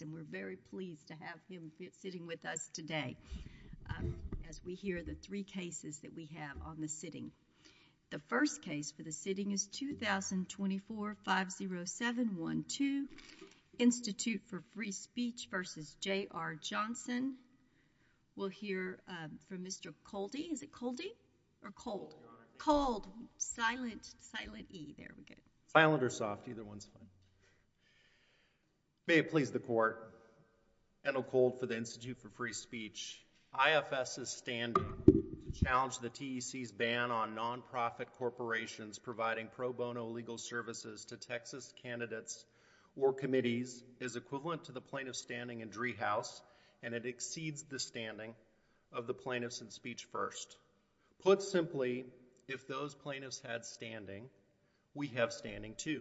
and we're very pleased to have him sitting with us today as we hear the three cases that we have on the sitting. The first case for the sitting is 2024-50712, Institute for Free Speech v. J.R. Johnson. We'll hear from Mr. Coldy. Is it Coldy or Cold? Cold. Silent. Silent or soft? Either one's fine. May it please the Court, Ed O'Cold for the Institute for Free Speech. IFS's standing to challenge the TEC's ban on non-profit corporations providing pro bono legal services to Texas candidates or committees is equivalent to the plaintiffs standing in Driehaus and it exceeds the standing of the plaintiffs in Speech First. Put simply, if those plaintiffs had standing, we have standing too.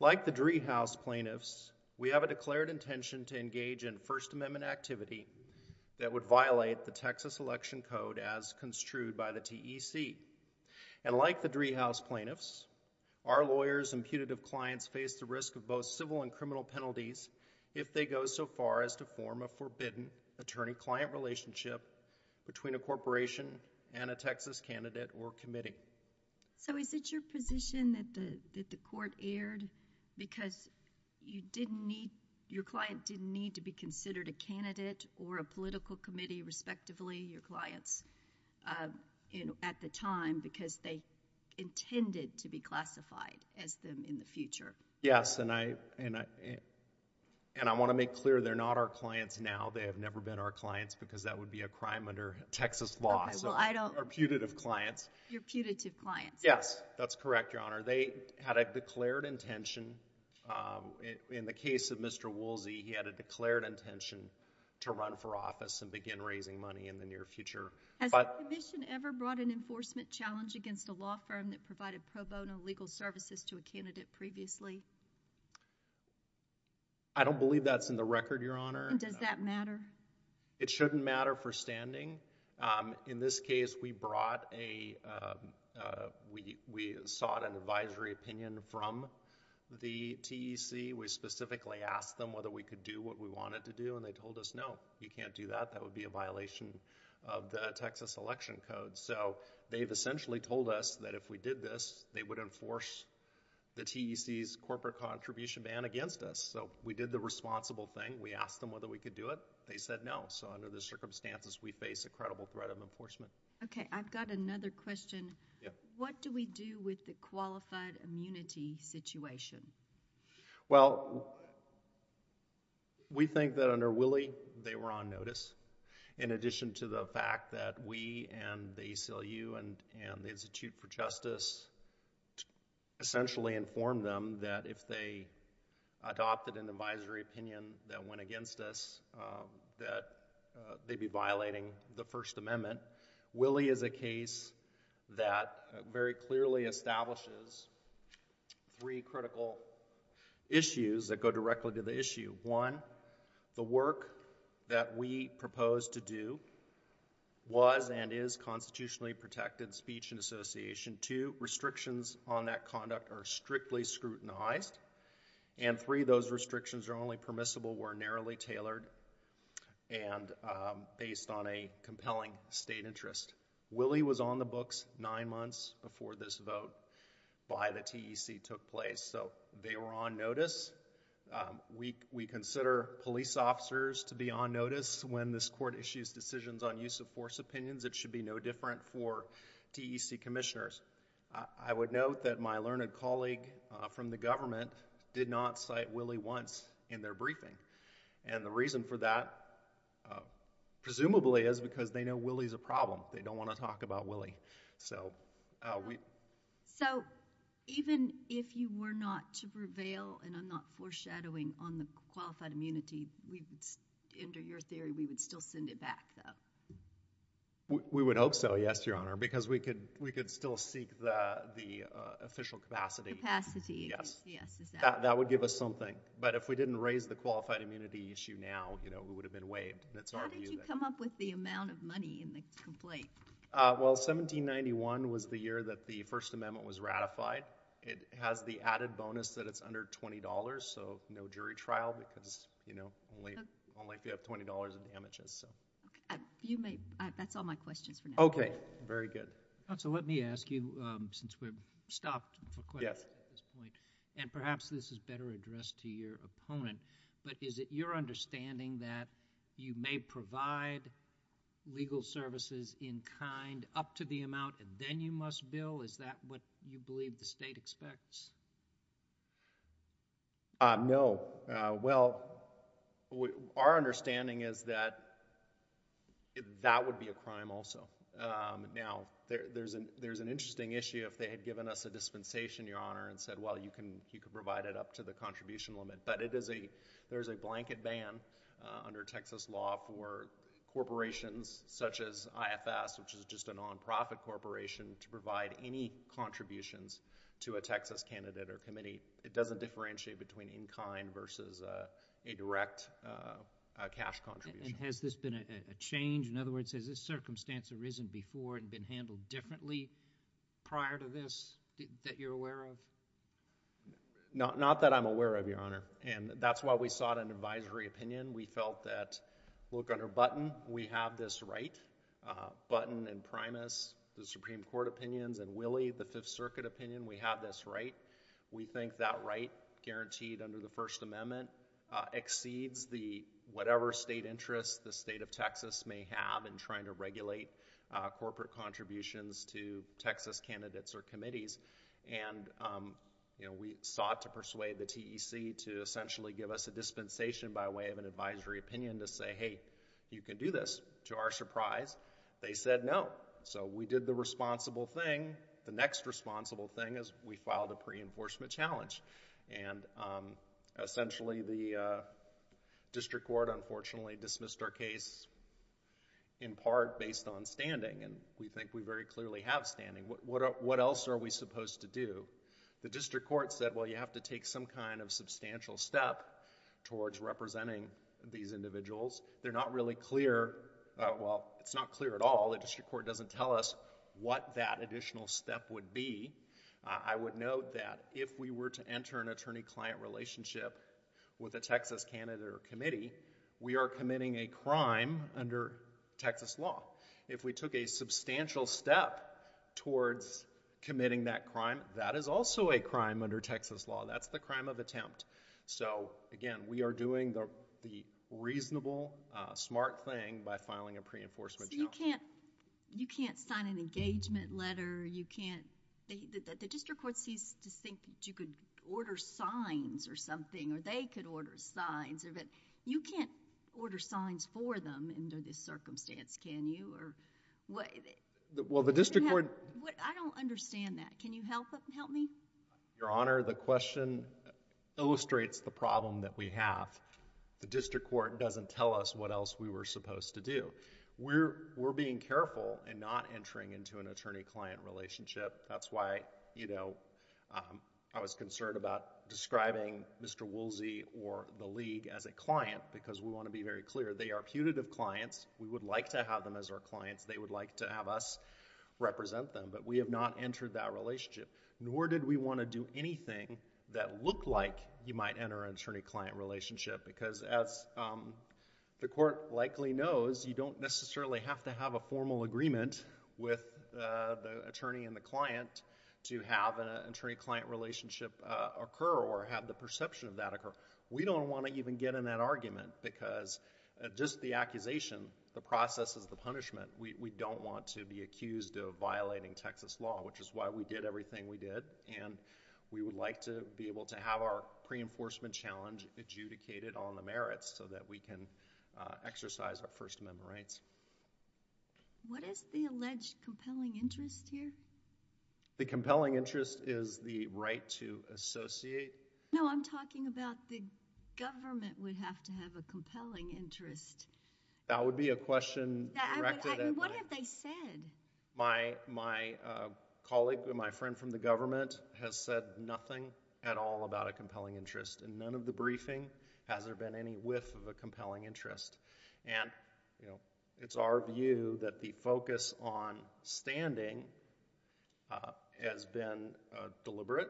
Like the Driehaus plaintiffs, we have a declared intention to engage in First Amendment activity that would violate the Texas Election Code as construed by the TEC. And like the Driehaus plaintiffs, our lawyers and putative clients face the risk of both civil and criminal penalties if they go so far as to form a forbidden attorney-client relationship between a corporation and a Texas candidate or committee. So is it your position that the Court erred because you didn't need, your client didn't need to be considered a candidate or a political committee, respectively, your clients at the time because they intended to be classified as them in the future? Yes, and I want to make clear they're not our clients now. They have never been our clients because that would be a crime under Texas law. Okay, well I don't. Our putative clients. Your putative clients. Yes, that's correct, Your Honor. They had a declared intention, in the case of Mr. Woolsey, he had a declared intention to run for office and begin raising money in the near future. Has the Commission ever brought an enforcement challenge against a law firm that provided pro bono legal services to a candidate previously? I don't believe that's in the record, Your Honor. Does that matter? It shouldn't matter for standing. In this case, we brought a, we sought an advisory opinion from the TEC. We specifically asked them whether we could do what we wanted to do and they told us, no, you can't do that. That would be a violation of the Texas Election Code. So they've essentially told us that if we did this, they would enforce the TEC's corporate contribution ban against us. So we did the responsible thing. We asked them whether we could do it. They said no. So under the circumstances, we face a credible threat of enforcement. Okay, I've got another question. What do we do with the qualified immunity situation? Well, we think that under Willie, they were on notice. In addition to the fact that we and the ACLU and the Institute for Justice essentially informed them that if they adopted an advisory opinion that went against us, that they'd be violating the First Amendment. Willie is a case that very clearly establishes three critical issues that go directly to the issue. One, the work that we proposed to do was and is constitutionally protected speech and association. Two, restrictions on that conduct are strictly scrutinized. And three, those restrictions are only permissible were narrowly tailored and based on a compelling state interest. Willie was on the books nine months before this vote by the TEC took place. So they were on notice. We consider police officers to be on notice when this court issues decisions on use of force opinions. It should be no different for TEC commissioners. I would note that my learned colleague from the government did not cite Willie once in their briefing. And the reason for that presumably is because they know Willie's a problem. They don't want to talk about Willie. So, we... So even if you were not to prevail, and I'm not foreshadowing on the qualified immunity, we would, under your theory, we would still send it back, though? We would hope so, yes, Your Honor, because we could still seek the official capacity. Capacity. Yes. Yes. Is that... That would give us something. But if we didn't raise the qualified immunity issue now, you know, we would have been waived. And it's our view that... How did you come up with the amount of money in the complaint? Well, 1791 was the year that the First Amendment was ratified. It has the added bonus that it's under $20. So, no jury trial because, you know, only if you have $20 in damages. You may... That's all my questions for now. Okay. Very good. So, let me ask you, since we've stopped for questions at this point, and perhaps this is better addressed to your opponent, but is it your understanding that you may provide legal services in kind up to the amount and you must bill? Is that what you believe the state expects? No. Well, our understanding is that that would be a crime also. Now, there's an interesting issue if they had given us a dispensation, Your Honor, and said, well, you can provide it up to the contribution limit. But it is a... there's a blanket ban under Texas law for corporations such as IFS, which is just a non-profit corporation, to provide any contributions to a Texas candidate or committee. It doesn't differentiate between in kind versus a direct cash contribution. And has this been a change? In other words, has this circumstance arisen before and been handled differently prior to this that you're aware of? Not that I'm aware of, Your Honor. And that's why we sought an advisory opinion. We felt that, look, under Button, we have this right. Button and Primus, the Supreme Court opinions, and Willie, the Fifth Circuit opinion, we have this right. We think that right, guaranteed under the First Amendment, exceeds the... whatever state interest the state of Texas may have in trying to regulate corporate contributions to Texas candidates or committees. And, you know, we sought to persuade the TEC to essentially give us a dispensation by way of an advisory opinion to say, hey, you can do this. To our surprise, they said no. So we did the responsible thing. The next responsible thing is we filed a pre-enforcement challenge. And essentially, the District Court unfortunately dismissed our case in part based on standing. And we think we very clearly have standing. What else are we supposed to do? The District Court said, well, you have to take some kind of step towards representing these individuals. They're not really clear... well, it's not clear at all. The District Court doesn't tell us what that additional step would be. I would note that if we were to enter an attorney-client relationship with a Texas candidate or committee, we are committing a crime under Texas law. If we took a substantial step towards committing that crime, that is also a crime under Texas law. That's the crime of attempt. So, again, we are doing the reasonable, smart thing by filing a pre-enforcement challenge. You can't sign an engagement letter. You can't... the District Court seems to think that you could order signs or something, or they could order signs. You can't order signs for them under this circumstance, can you? Well, the District Court... I don't understand that. Can you help me? Your Honor, the question illustrates the problem that we have. The District Court doesn't tell us what else we were supposed to do. We're being careful in not entering into an attorney-client relationship. That's why, you know, I was concerned about describing Mr. Woolsey or the League as a client because we want to be very clear. They are putative clients. We would like to have them as our clients. They would like to have us represent them, but we have not entered that relationship, nor did we want to do anything that looked like you might enter an attorney-client relationship because, as the Court likely knows, you don't necessarily have to have a formal agreement with the attorney and the client to have an attorney-client relationship occur or have the perception of that occur. We don't want to even get in that argument because just the accusation, the process is the punishment. We don't want to be accused of violating Texas law, which is why we did everything we did, and we would like to be able to have our pre-enforcement challenge adjudicated on the merits so that we can exercise our First Amendment rights. What is the alleged compelling interest here? The compelling interest is the right to associate. No, I'm talking about the government would have to have a compelling interest. That would be a question directed at my— What have they said? My colleague and my friend from the government has said nothing at all about a compelling interest, and none of the briefing has there been any whiff of a compelling interest. And, you know, it's our view that the focus on standing has been deliberate,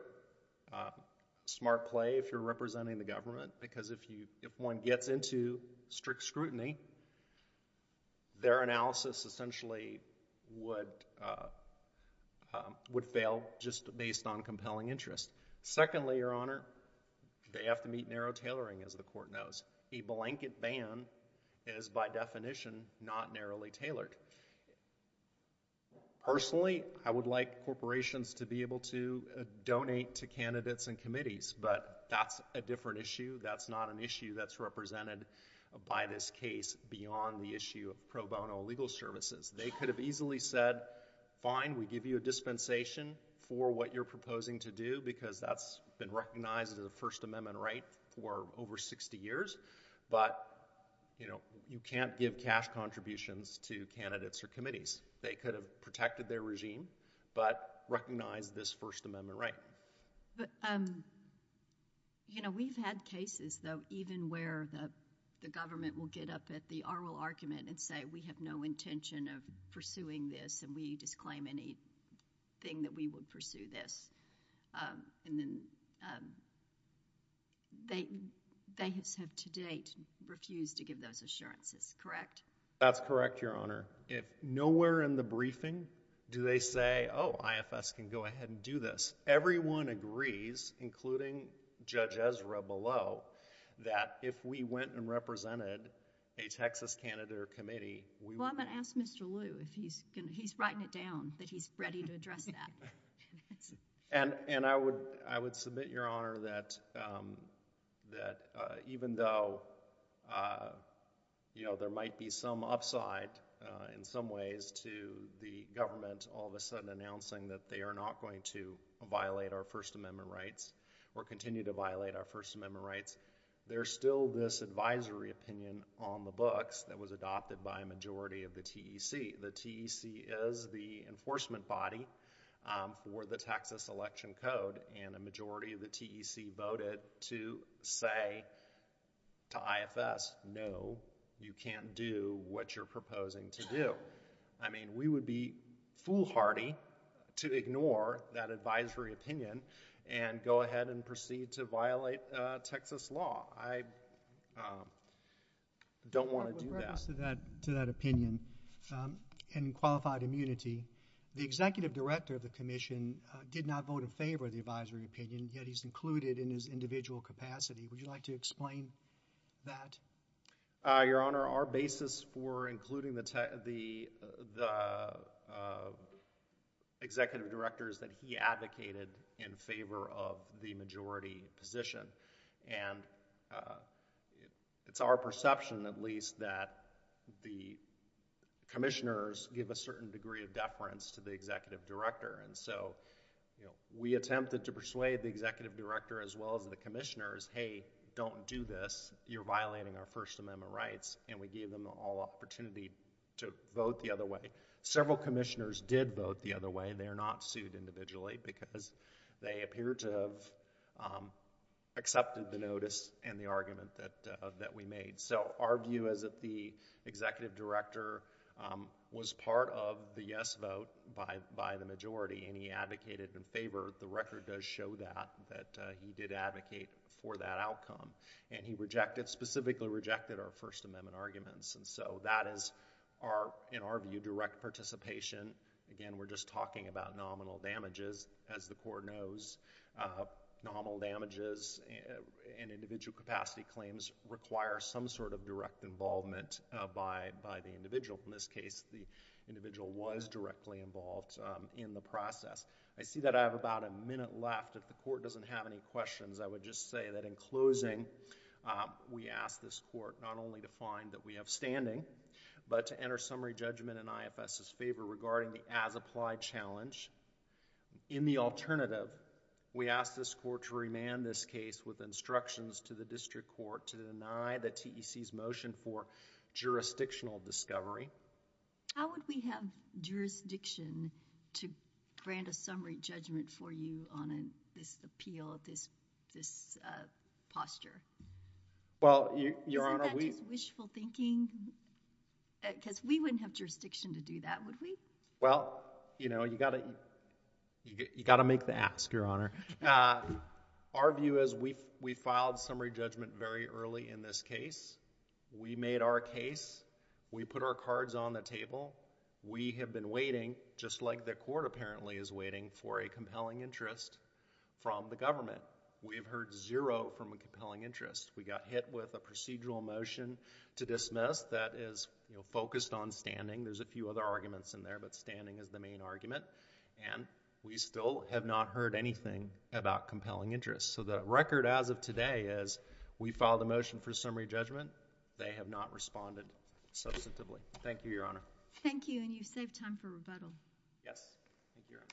smart play if you're representing the government, because if you—if one gets into strict scrutiny, their analysis essentially would fail just based on compelling interest. Secondly, Your Honor, they have to meet narrow tailoring, as the Court knows. A blanket ban is by definition not narrowly tailored. Personally, I would like corporations to be able to donate to candidates and committees, but that's a different issue. That's not an issue that's represented by this case beyond the issue of pro bono legal services. They could have easily said, fine, we give you a dispensation for what you're proposing to do, because that's been recognized as a First Amendment right for over 60 years, but, you know, you can't give cash contributions to candidates or committees. They could have protected their regime, but recognized this First Amendment right. But, you know, we've had cases, though, even where the government will get up at the oral argument and say, we have no intention of pursuing this, and we disclaim anything that we would pursue this. And then, they have to date refused to give those assurances, correct? That's correct, Your Honor. Nowhere in the briefing do they say, oh, IFS can go ahead and do this. Everyone agrees, including Judge Ezra below, that if we went and represented a Texas candidate or committee... Well, I'm going to ask Mr. Lew if he's going to... he's writing it down, that he's ready to address that. And I would submit, Your Honor, that even though, you know, there might be some upside in some ways to the government all of a sudden announcing that they are not going to violate our First Amendment rights, or continue to violate our First Amendment rights, there's still this advisory opinion on the books that was adopted by a majority of the TEC. The TEC is the enforcement body for the Texas Election Code, and a majority of the TEC voted to say to IFS, no, you can't do what you're proposing to do. I mean, we would be foolhardy to ignore that advisory opinion and go ahead and proceed to violate Texas law. I don't want to do that. To that opinion, in qualified immunity, the Executive Director of the Commission did not vote in favor of the advisory opinion, yet he's included in his individual capacity. Would you like to explain that? Your Honor, our basis for including the Executive Director is that he advocated in favor of the majority position. And it's our perception, at least, that the commissioners give a certain degree of deference to the Executive Director. And so, you know, we attempted to persuade the Executive Director, as well as the commissioners, hey, don't do this, you're violating our First Amendment rights, and we gave them all opportunity to vote the other way. Several commissioners did vote the other way. They are not sued individually, because they appear to have accepted the notice and the argument that we made. So, our view is that the Executive Director was part of the yes vote by the majority, and he advocated in favor. The record does show that, that he did advocate for that outcome. And he rejected, specifically rejected, our First Amendment arguments. And so, that is, in our view, direct participation. Again, we're just talking about nominal damages. As the Court knows, nominal damages in individual capacity claims require some sort of direct involvement by the individual. In this case, the individual was directly involved in the process. I see that I have about a minute left. If the Court doesn't have any questions, I would just say that in closing, we ask this Court not only to find that we have standing, but to enter summary judgment in IFS's favor regarding the as-applied challenge. In the alternative, we ask this Court to remand this case with instructions to the district court to deny the TEC's motion for jurisdictional discovery. How would we have jurisdiction to grant a summary judgment for you on this appeal, this posture? Isn't that just wishful thinking? Because we wouldn't have jurisdiction to do that, would we? Well, you know, you got to make the ask, Your Honor. Our view is we filed summary judgment very early in this case. We made our case. We put our cards on the table. We have been waiting, just like the Court apparently is waiting, for a compelling interest from the government. We have heard zero from a compelling interest. We got hit with a procedural motion to dismiss that is focused on standing. There's a few other arguments in there, but standing is the main argument. And we still have not heard anything about compelling interest. So the record as of today is we filed the motion for summary judgment. They have not responded substantively. Thank you, Your Honor. Thank you, and you've saved time for rebuttal. Yes. Thank you, Your Honor.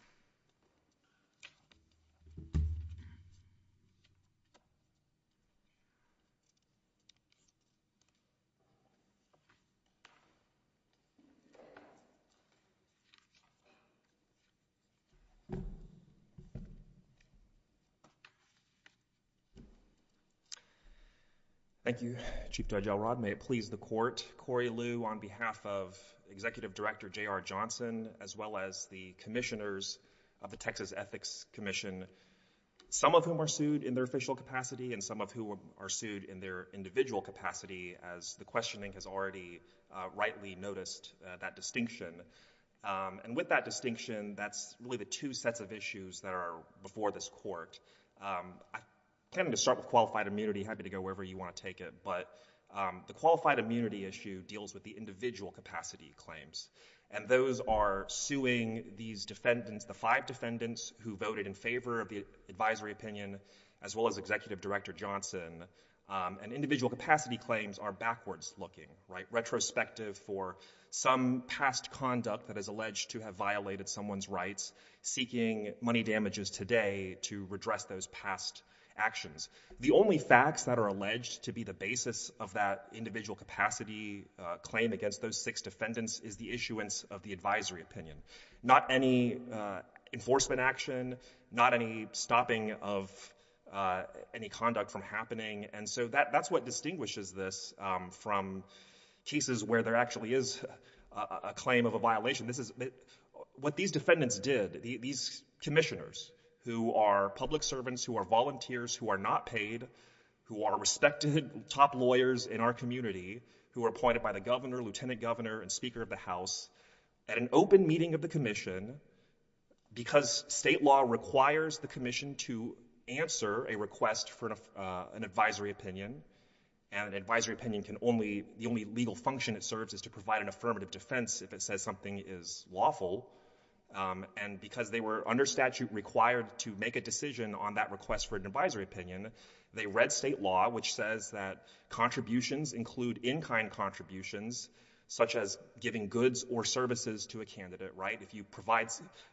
Thank you, Chief Judge Elrod. May it please the Court, Corey Liu on behalf of Executive Director J.R. Johnson as well as the commissioners of the Texas Ethics Commission, some of whom are sued in their official capacity and some of whom are sued in their individual capacity as the questioning has already rightly noticed that distinction. And with that distinction, that's really the two sets of issues that are before this Court. I'm planning to start with qualified immunity, happy to go wherever you want to take it, but the qualified immunity issue deals with the individual capacity claims. And those are suing these defendants, the five defendants who voted in favor of the advisory opinion as well as Executive Director Johnson. And individual capacity claims are backwards looking, right? Retrospective for some past conduct that is alleged to have violated someone's rights, seeking money damages today to redress those past actions. The only facts that are alleged to be the basis of that individual capacity claim against those six defendants is the issuance of the advisory opinion, not any enforcement action, not any stopping of any conduct from happening. And so that's what distinguishes this from cases where there actually is a claim of a violation. What these defendants did, these commissioners who are public servants, who are volunteers, who are not paid, who are respected top lawyers in our community, who are appointed by the governor, lieutenant governor, and speaker of the house at an open meeting of the commission because state law requires the commission to answer a request for an advisory opinion and an advisory opinion can only, the only legal function it serves is to provide an affirmative defense if it says something is lawful. And because they were under statute required to make a decision on that request for an advisory opinion, they read state law which says that contributions include in-kind contributions such as giving goods or services to a candidate, right? If you provide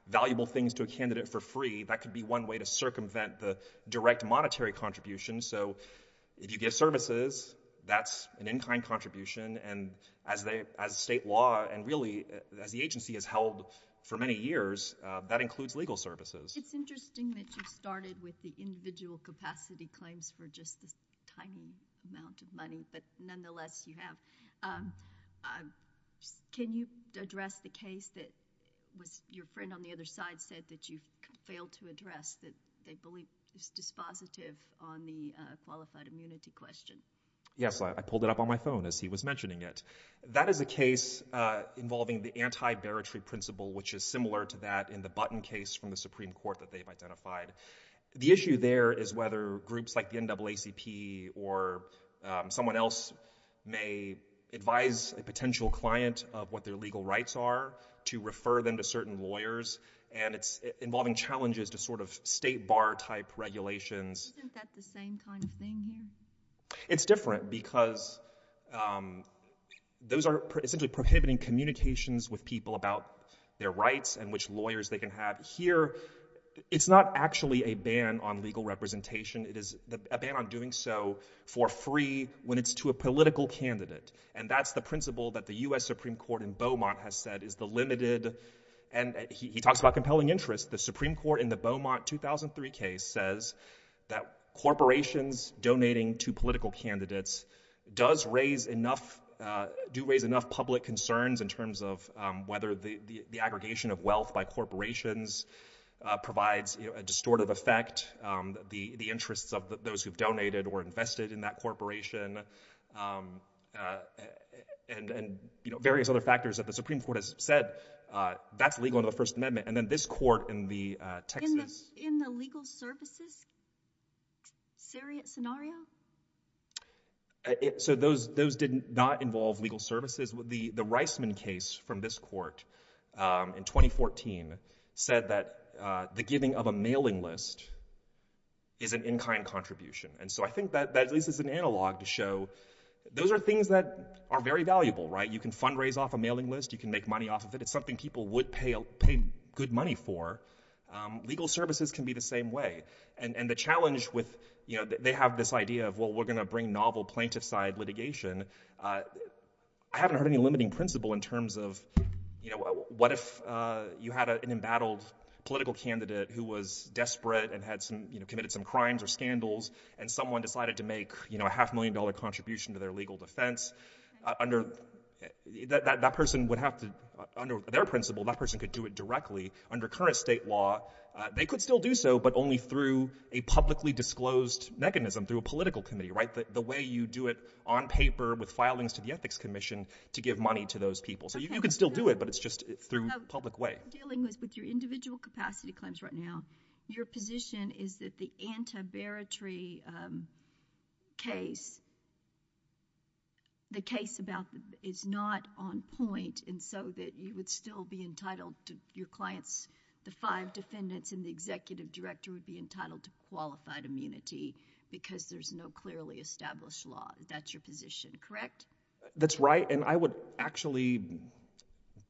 valuable things to a candidate for free, that could be one way to circumvent the direct monetary contribution. So if you give services, that's an in-kind contribution and as state law and really as the agency has held for many years, that includes legal services. It's interesting that you started with the individual capacity claims for just this tiny amount of money, but nonetheless you have. Can you address the case that your friend on the other side said that you failed to address, that they believe is dispositive on the qualified immunity question? Yes, I pulled it up on my phone as he was mentioning it. That is a case involving the anti-veritary principle which is similar to that in the Button case from the Supreme Court that they've identified. The issue there is whether groups like the NAACP or someone else may advise a potential client of what their legal rights are to refer them to certain lawyers and it's involving challenges to sort of state bar type regulations. Isn't that the same kind of thing here? It's different because those are essentially prohibiting communications with people about their rights and which lawyers they can have. Here, it's not actually a ban on legal representation. It is a ban on doing so for free when it's to a political candidate and that's the principle that the U.S. Supreme Court in Beaumont has said is the limited and he talks about compelling interest. The Supreme Court in the Beaumont 2003 case says that corporations donating to political candidates do raise enough public concerns in terms of whether the aggregation of wealth by corporations provides a distortive effect, the interests of those who've donated or invested in that corporation, and various other factors that the Supreme Court has said. That's legal in the First Amendment and then this court in the Texas... Isn't that in the legal services scenario? So those did not involve legal services. The Reisman case from this court in 2014 said that the giving of a mailing list is an in-kind contribution and so I think that this is an analog to show those are things that are very valuable, right? You can fundraise off a mailing list. You can make money off of it. It's something people would pay good money for. Legal services can be the same way and the challenge with, you know, they have this idea of, well, we're going to bring novel plaintiff side litigation. I haven't heard any limiting principle in terms of, you know, what if you had an embattled political candidate who was desperate and had some, you know, committed some crimes or scandals and someone decided to make, you know, a half million dollar contribution to their legal defense under... That person would have to... Under their principle, that person could do it directly. Under current state law, they could still do so but only through a publicly disclosed mechanism through a political committee, right? The way you do it on paper with filings to the Ethics Commission to give money to those people. So you can still do it but it's just through public way. I'm dealing with your individual capacity claims right now. Your position is that the anti-baritrary case, the case about... Is not on point. And so that you would still be entitled to your clients, the five defendants and the executive director would be entitled to qualified immunity because there's no clearly established law. That's your position, correct? That's right. And I would actually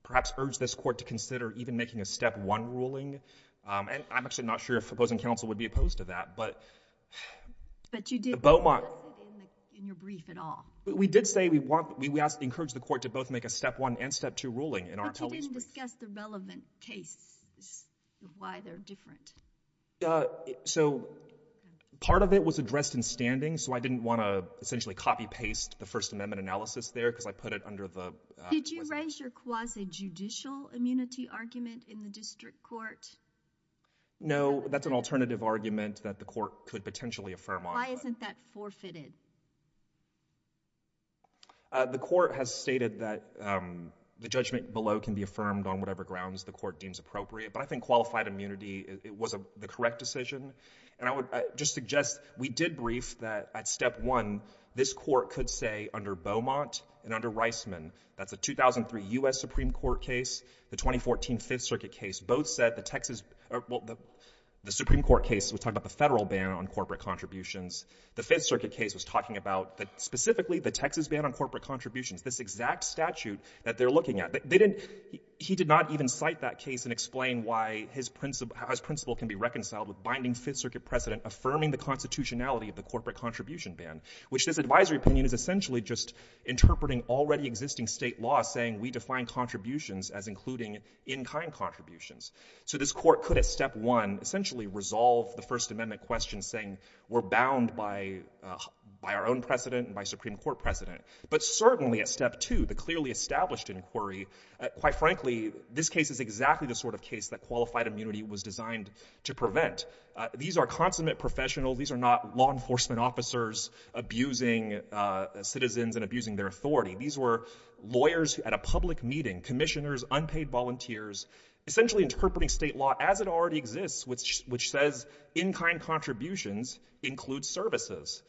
perhaps urge this court to consider even making a step one ruling. And I'm actually not sure if opposing counsel would be opposed to that but... But you did in your brief at all. We did say we want... We ask... Encourage the court to both make a step one and step two ruling in our... But you didn't discuss the relevant case, why they're different. So part of it was addressed in standing so I didn't want to essentially copy-paste the First Amendment analysis there because I put it under the... Did you raise your quasi-judicial immunity argument in the district court? No, that's an alternative argument that the court could potentially affirm on. Why isn't that forfeited? The court has stated that the judgment below can be affirmed on whatever grounds the court deems appropriate. But I think qualified immunity, it was the correct decision. And I would just suggest we did brief that at step one, this court could say under Beaumont and under Reisman, that's a 2003 US Supreme Court case, the 2014 Fifth Circuit case, both said the Texas... Well, the Supreme Court case was talking about the federal ban on corporate contributions. The Fifth Circuit case was talking about specifically the Texas ban on corporate contributions, this exact statute that they're looking at. He did not even cite that case and explain why his principle can be reconciled with binding Fifth Circuit precedent affirming the constitutionality of the corporate contribution ban, which this advisory opinion is essentially just interpreting already existing state law saying we define contributions as including in-kind contributions. So this court could, at step one, essentially resolve the First Amendment question saying we're bound by our own precedent and by Supreme Court precedent. But certainly at step two, the clearly established inquiry, quite frankly, this case is exactly the sort of case that qualified immunity was designed to prevent. These are consummate professionals. These are not law enforcement officers abusing citizens and abusing their authority. These were lawyers at a public meeting, commissioners, unpaid volunteers, essentially interpreting state law as it already exists, which says in-kind contributions include services.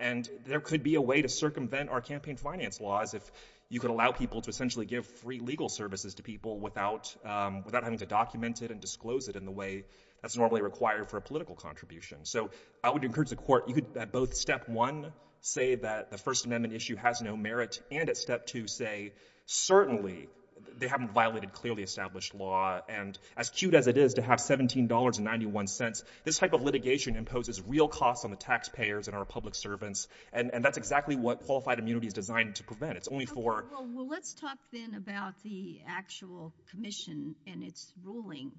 And there could be a way to circumvent our campaign finance laws if you could allow people to essentially give free legal services to people without having to document it and disclose it in the way that's normally required for a political contribution. So I would encourage the court, you could at both step one say that the First Amendment issue has no merit, and at step two say certainly they haven't violated clearly established law. And as cute as it is to have $17.91, this type of litigation imposes real costs on the taxpayers and our public servants. And that's exactly what qualified immunity is designed to prevent. It's only for— Well, let's talk then about the actual commission and its ruling.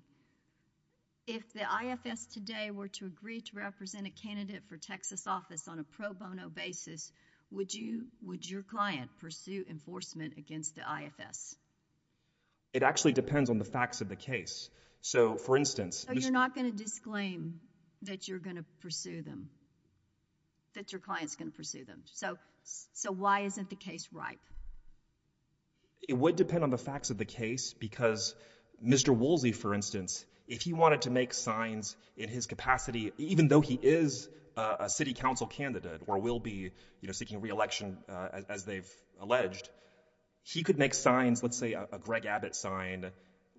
If the IFS today were to agree to represent a candidate for Texas office on a pro bono basis, would your client pursue enforcement against the IFS? It actually depends on the facts of the case. So, for instance— So you're not going to disclaim that you're going to pursue them, that your client's going to pursue them. So why isn't the case ripe? It would depend on the facts of the case because Mr. Woolsey, for instance, if he wanted to make signs in his capacity, even though he is a city council candidate or will be seeking re-election as they've alleged, he could make signs, let's say a Greg Abbott sign,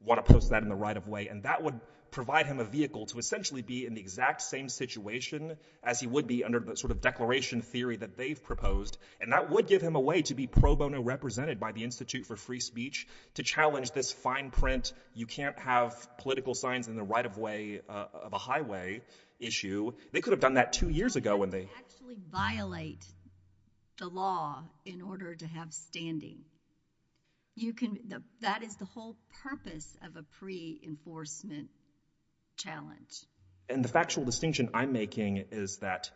want to post that in the right of way, and that would provide him a vehicle to essentially be in the exact same situation as he would be under the sort of declaration theory that they've proposed. And that would give him a way to be pro bono represented by the Institute for Free Speech to challenge this fine print, you can't have political signs in the right of way of a highway issue. They could have done that two years ago when they— You can't actually violate the law in order to have standing. You can—that is the whole purpose of a pre-enforcement challenge. And the factual distinction I'm making is that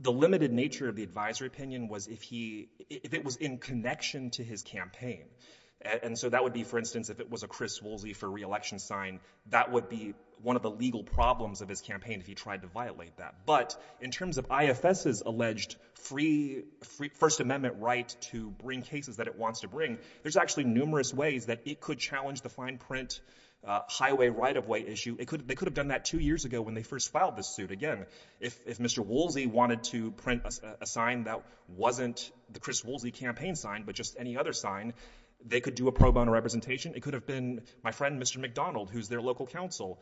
the limited nature of the advisory opinion was if he—if it was in connection to his campaign. And so that would be, for instance, if it was a Chris Woolsey for re-election sign, that would be one of the legal problems of his campaign if he tried to violate that. But in terms of IFS's alleged free—First Amendment right to bring cases that it wants to bring, there's actually numerous ways that it could challenge the fine print highway right of way issue. They could have done that two years ago when they first filed this suit. Again, if Mr. Woolsey wanted to print a sign that wasn't the Chris Woolsey campaign sign, but just any other sign, they could do a pro representation. It could have been my friend, Mr. McDonald, who's their local counsel.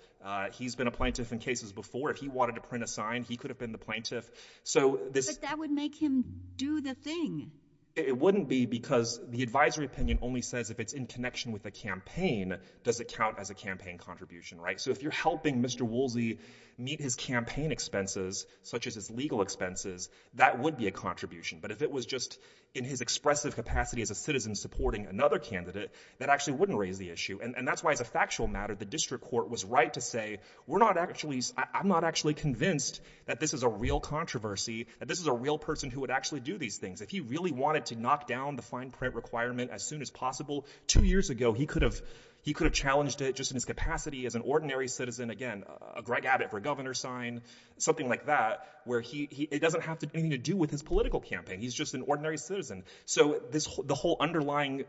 He's been a plaintiff in cases before. If he wanted to print a sign, he could have been the plaintiff. So this— But that would make him do the thing. It wouldn't be because the advisory opinion only says if it's in connection with a campaign does it count as a campaign contribution, right? So if you're helping Mr. Woolsey meet his campaign expenses, such as his legal expenses, that would be a contribution. But if it was just in his expressive capacity as a citizen supporting another candidate, that actually wouldn't raise the issue. And that's why, as a factual matter, the district court was right to say, we're not actually—I'm not actually convinced that this is a real controversy, that this is a real person who would actually do these things. If he really wanted to knock down the fine print requirement as soon as possible, two years ago, he could have challenged it just in his capacity as an ordinary citizen—again, a Greg Abbott for governor sign, something like that—where he—it doesn't have anything to do with his political campaign. He's just an ordinary citizen. So this—the whole underlying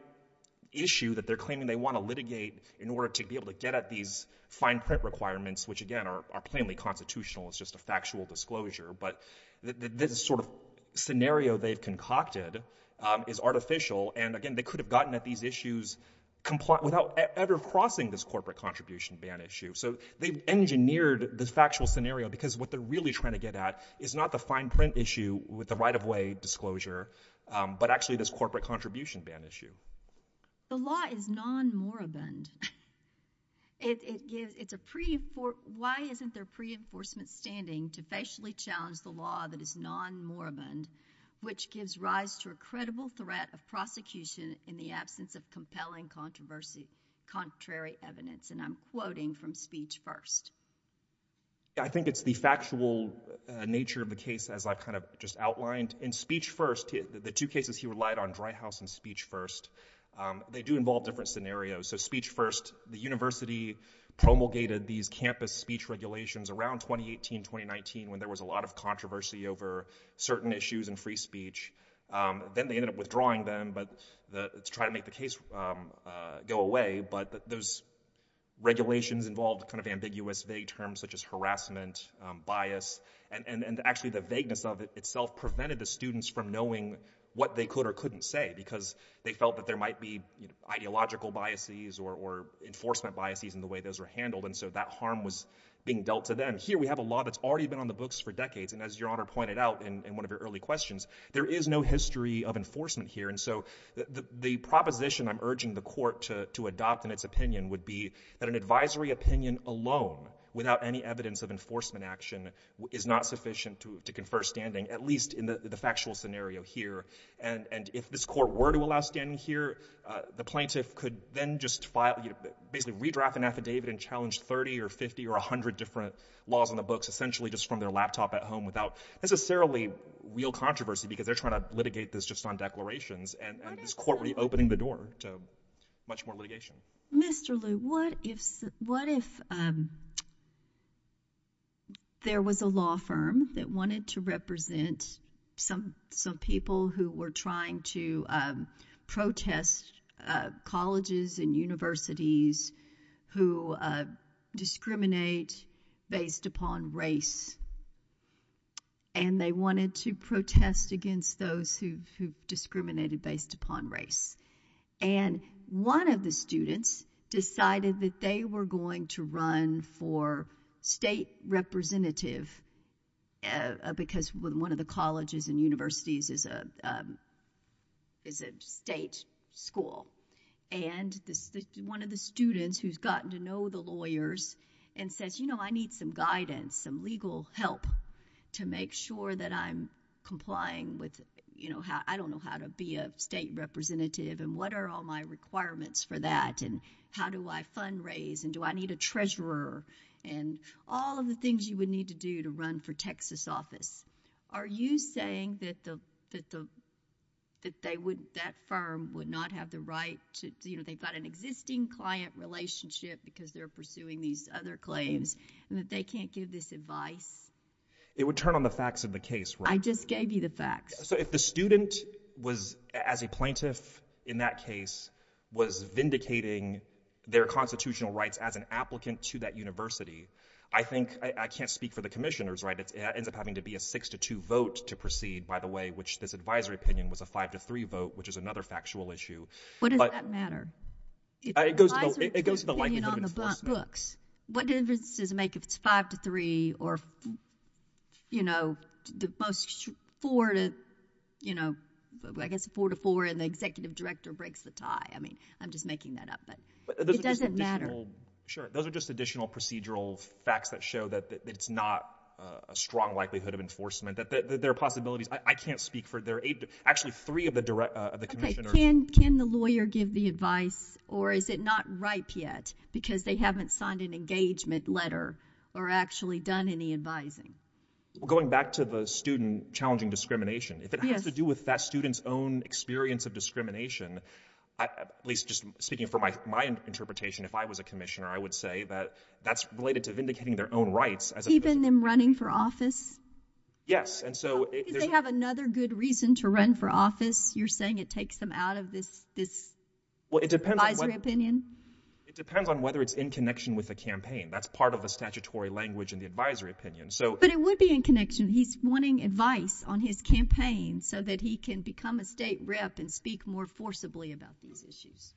issue that they're claiming they want to litigate in order to be able to get at these fine print requirements, which, again, are—are plainly constitutional. It's just a factual disclosure. But this sort of scenario they've concocted is artificial. And, again, they could have gotten at these issues compli—without ever crossing this corporate contribution ban issue. So they've engineered the factual scenario because what they're really trying to get at is not the fine print issue with the right-of-way disclosure, but actually this corporate contribution ban issue. The law is non-moribund. It—it gives—it's a pre—for—why isn't there pre-enforcement standing to facially challenge the law that is non-moribund, which gives rise to a credible threat of prosecution in the absence of compelling controversy—contrary evidence? And I'm quoting from speech first. Yeah, I think it's the factual nature of the case, as I've kind of just outlined. In speech first, the two cases he relied on, Dry House and speech first, they do involve different scenarios. So speech first, the university promulgated these campus speech regulations around 2018, 2019, when there was a lot of controversy over certain issues in free speech. Then they ended up withdrawing them, but—to try to make the case go away, but those regulations involved kind of ambiguous, vague terms such as harassment, bias, and—and actually the vagueness of it itself prevented the students from knowing what they could or couldn't say, because they felt that there might be, you know, ideological biases or—or enforcement biases in the way those were handled, and so that harm was being dealt to them. Here, we have a law that's already been on the books for decades, and as Your Honor pointed out in—in one of your early questions, there is no history of enforcement here, and so the—the—the proposition I'm urging the court to—to adopt in its opinion would be that an advisory opinion alone, without any evidence of enforcement action, is not sufficient to—to confer standing, at least in the—the factual scenario here. And—and if this court were to allow standing here, the plaintiff could then just file—basically redraft an affidavit and challenge 30 or 50 or 100 different laws on the books, essentially just from their laptop at home, without necessarily real controversy, because they're trying to litigate this just on declarations, and—and this court reopening the door to much more What if—Mr. Liu, what if—what if there was a law firm that wanted to represent some—some people who were trying to protest colleges and universities who discriminate based upon race, and they wanted to protest against those who—who discriminated based upon race, and one of the students decided that they were going to run for state representative, because one of the colleges and universities is a—is a state school, and this—one of the students who's gotten to know the lawyers and says, you know, I need some guidance, some legal help to make sure that I'm complying with, you know, how—I don't know how to be a state representative, and what are all my requirements for that, and how do I fundraise, and do I need a treasurer, and all of the things you would need to do to run for Texas office. Are you saying that the—that the—that they would—that firm would not have the right to—you know, they've got an existing client relationship because they're pursuing these other claims, and that they can't give this advice? It would turn on the facts of the case, right? I just gave you the facts. So if the student was, as a plaintiff in that case, was vindicating their constitutional rights as an applicant to that university, I think—I—I can't speak for the commissioners, right? It ends up having to be a 6 to 2 vote to proceed, by the way, which this advisory opinion was a 5 to 3 vote, which is another factual issue. What does that matter? It goes to the— If the advisory group opinion on the books, what difference does it make if it's 5 to 3 or, you know, the most—4 to, you know, I guess 4 to 4, and the executive director breaks the tie? I mean, I'm just making that up, but it doesn't matter. Sure. Those are just additional procedural facts that show that it's not a strong likelihood of enforcement, that there are possibilities. I can't speak for their—actually, three of the commissioners— Can—can the lawyer give the advice, or is it not ripe yet because they haven't signed an engagement letter or actually done any advising? Going back to the student challenging discrimination, if it has to do with that student's own experience of discrimination, at least just speaking from my interpretation, if I was a commissioner, I would say that that's related to vindicating their own rights as a— Keeping them running for office? Yes, and so— Do you think that they have another good reason to run for office? You're saying it takes them out of this— Well, it depends— —advisory opinion? It depends on whether it's in connection with the campaign. That's part of the statutory language in the advisory opinion, so— But it would be in connection. He's wanting advice on his campaign so that he can become a state rep and speak more forcibly about these issues.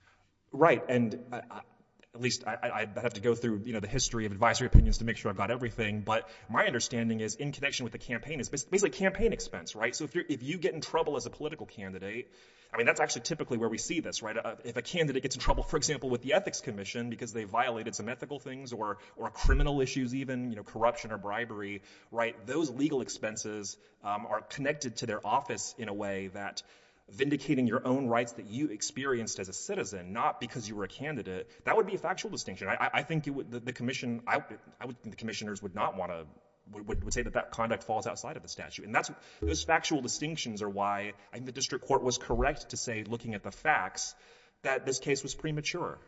Right, and at least I'd have to go through, you know, the history of advisory opinions to make sure I've got everything, but my understanding is in connection with the campaign is basically campaign expense, right? So if you get in trouble as a political candidate, I mean, that's actually typically where we see this, right? If a candidate gets in trouble, for example, with the Ethics Commission because they violated some ethical things or criminal issues even, you know, corruption or bribery, right, those legal expenses are connected to their office in a way that vindicating your own rights that you experienced as a citizen, not because you were a candidate, that would be a factual distinction. I think you would—the commission—the commissioners would not want to—would say that that conduct falls outside of the statute, and that's—those factual distinctions are why I think the district court was correct to say, looking at the facts, that this case was premature.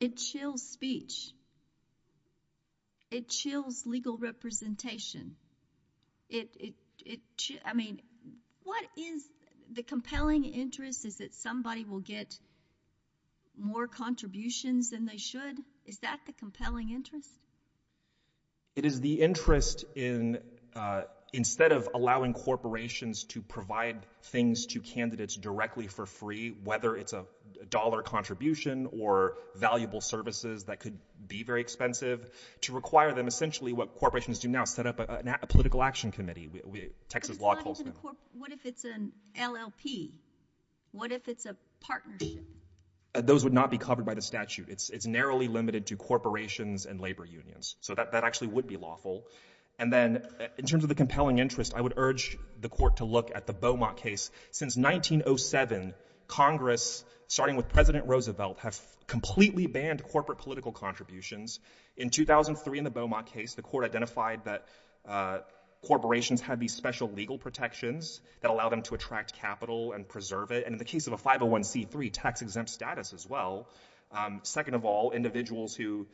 It chills speech. It chills legal representation. It—I mean, what is the compelling interest is that somebody will get more contributions than they should? Is that the compelling interest? It is the interest in—instead of allowing corporations to provide things to candidates directly for free, whether it's a dollar contribution or valuable services that could be very expensive, to require them essentially what corporations do now, set up a political action committee. What if it's an LLP? What if it's a partnership? Those would not be covered by the statute. It's narrowly limited to corporations and labor unions. So that actually would be lawful. And then, in terms of the compelling interest, I would urge the court to look at the Beaumont case. Since 1907, Congress, starting with President Roosevelt, has completely banned corporate political contributions. In 2003, in the Beaumont case, the court identified that corporations have these special legal protections that allow them to attract capital and preserve it. And in the case of a 501c3, tax-exempt status as well. Second of all, individuals who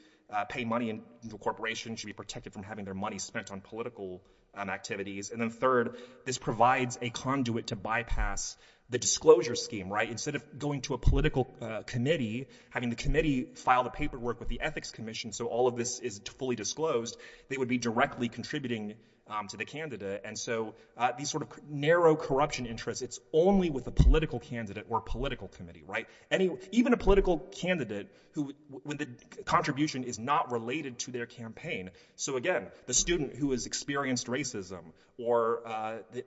pay money into a corporation should be protected from having their money spent on political activities. And then third, this provides a conduit to bypass the disclosure scheme, right? Instead of going to a political committee, having the committee file the paperwork with the Ethics Commission so all of this is fully disclosed, they would be directly contributing to the candidate. And so these sort of narrow corruption interests, it's only with a political candidate or political committee, right? Even a political candidate, when the contribution is not related to their campaign. So again, the student who has experienced racism, or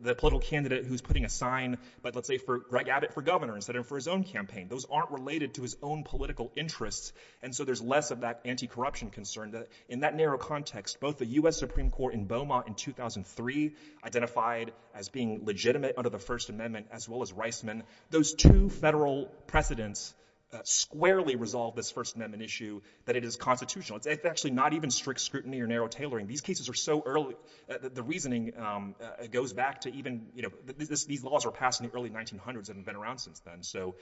the political candidate who's putting a sign, let's say, for Greg Abbott for governor, instead of for his own campaign. Those aren't related to his own political interests. And so there's less of that anti-corruption concern and in that narrow context, both the U.S. Supreme Court in Beaumont in 2003 identified as being legitimate under the First Amendment, as well as Reisman. Those two federal precedents squarely resolve this First Amendment issue that it is constitutional. It's actually not even strict scrutiny or narrow tailoring. These cases are so early, the reasoning goes back to even, you know, these laws were passed in the early 1900s and have been around since then. So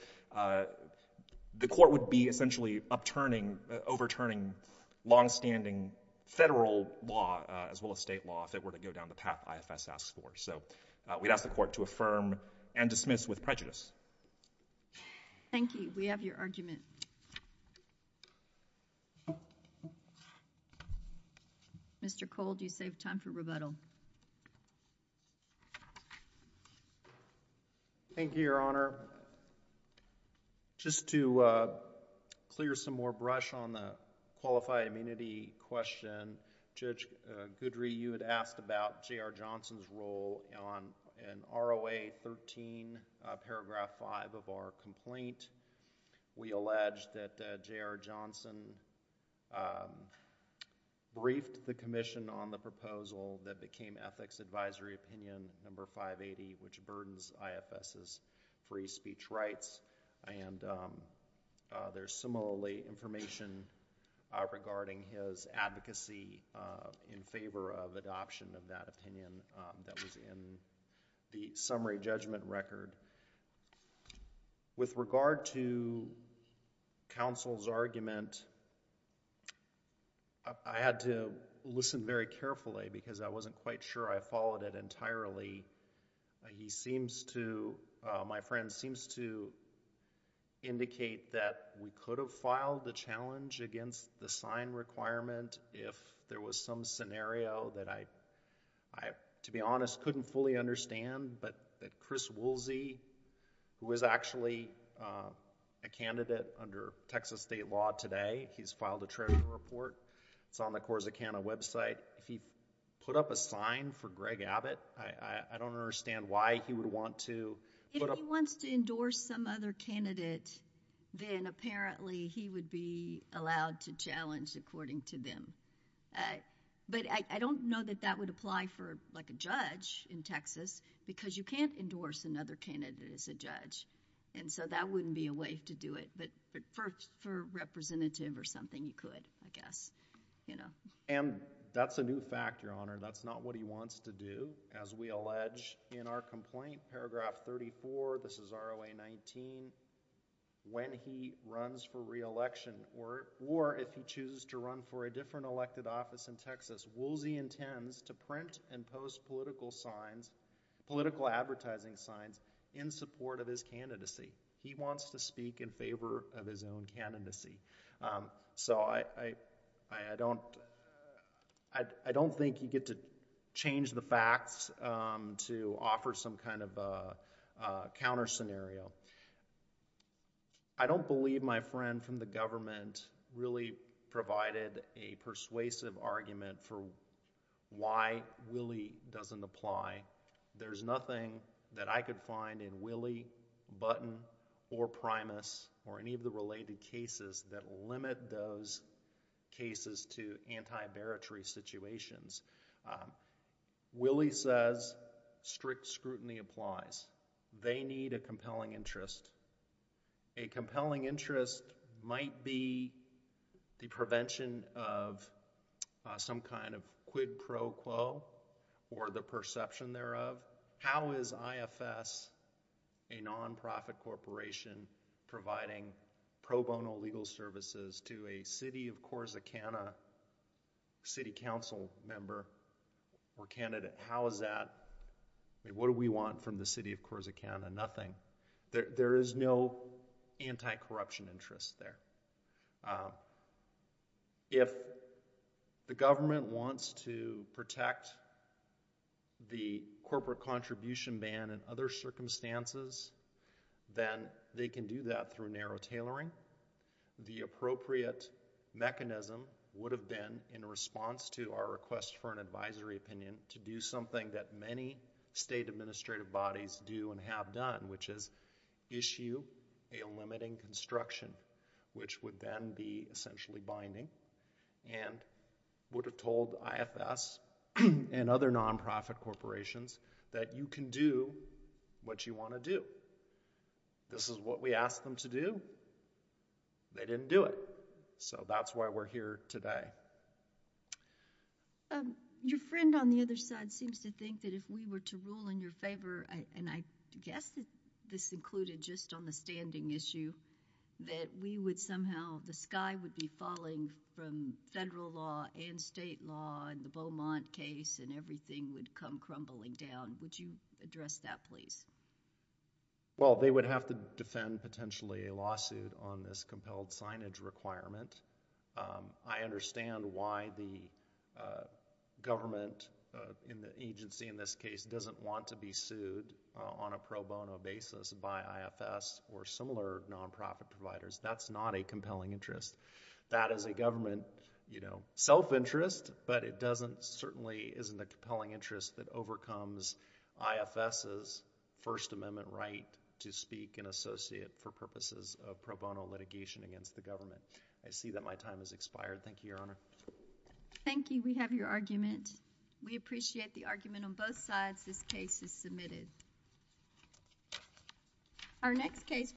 the court would be essentially upturning, overturning longstanding federal law as well as state law if it were to go down the path IFS asks for. So we'd ask the court to affirm and dismiss with prejudice. Thank you. We have your argument. Mr. Cole, do you save time for rebuttal? Thank you, Your Honor. Just to clear some more brush on the qualified immunity question, Judge Goodry, you had asked about J.R. Johnson's role in ROA 13, paragraph 5 of our complaint. We allege that J.R. Johnson briefed the Commission on the proposal that became Ethics Advisory Opinion number 580, which burdens IFS's free speech rights. And there's similarly information regarding his advocacy in favor of adoption of that opinion that was in the summary judgment record. With regard to counsel's argument, I had to listen very carefully because I wasn't quite sure I followed it entirely. He seems to, my friend, seems to indicate that we could have filed the challenge against the sign requirement if there was some scenario that I, to be honest, couldn't fully understand, but that Chris Woolsey, who is actually a candidate under Texas state law today, he's filed a treasurer report. It's on the CORSA Canada website. If he put up a sign for Greg Abbott, I don't understand why he would want to put up... If he wants to endorse some other candidate, then apparently he would be allowed to challenge according to them. But I don't know that that would apply for like a judge in Texas because you can't endorse another candidate as a judge, and so that wouldn't be a way to do it. But for a representative or something, you could, I guess, you know. And that's a new fact, Your Honor. That's not what he wants to do, as we allege in our own point. Paragraph 34, this is ROA 19, when he runs for re-election or if he chooses to run for a different elected office in Texas, Woolsey intends to print and post political signs, political advertising signs, in support of his candidacy. He wants to speak in favor of his own candidacy. So I don't, I don't think you get to change the facts to offer some kind of a counter scenario. I don't believe my friend from the government really provided a persuasive argument for why Willie doesn't apply. There's nothing that I could find in Willie, Button or Primus or any of the related cases that limit those cases to anti-baritrary situations. Willie says strict scrutiny applies. They need a compelling interest. A compelling interest might be the prevention of some kind of quid pro quo or the perception thereof. How is IFS, a non-profit corporation, providing pro bono legal services to a city of Corsicana city council member or candidate? How is that, what do we want from the city of Corsicana? Nothing. There is no anti-corruption interest there. If the government wants to protect the corporate contribution ban and other circumstances, then they can do that through narrow tailoring. The appropriate mechanism would have been, in response to our request for an advisory opinion, to do something that many state administrative bodies do and have done, which is issue a limiting construction, which would then be essentially binding and would have told IFS and other non-profit corporations that you can do what you want to do. This is what we asked them to do. They didn't do it, so that's why we're here today. Your friend on the other side seems to think that if we were to rule in your favor, and I guess this included just on the standing issue, that we would somehow, the sky would be falling from federal law and state law and the Beaumont case and everything would come crumbling down. Would you address that, please? Well, they would have to defend potentially a lawsuit on this compelled signage requirement. I understand why the government, in the agency in this case, doesn't want to be sued on a pro bono basis by IFS or similar non-profit providers. That's not a compelling interest. That is a government self-interest, but it doesn't, certainly isn't a compelling interest that overcomes IFS's First Amendment right to speak and associate for purposes of pro bono litigation against the government. I see that my time has expired. Thank you, Your Honor. Thank you. We have your argument. We appreciate the argument on both sides. This case is submitted. Our next case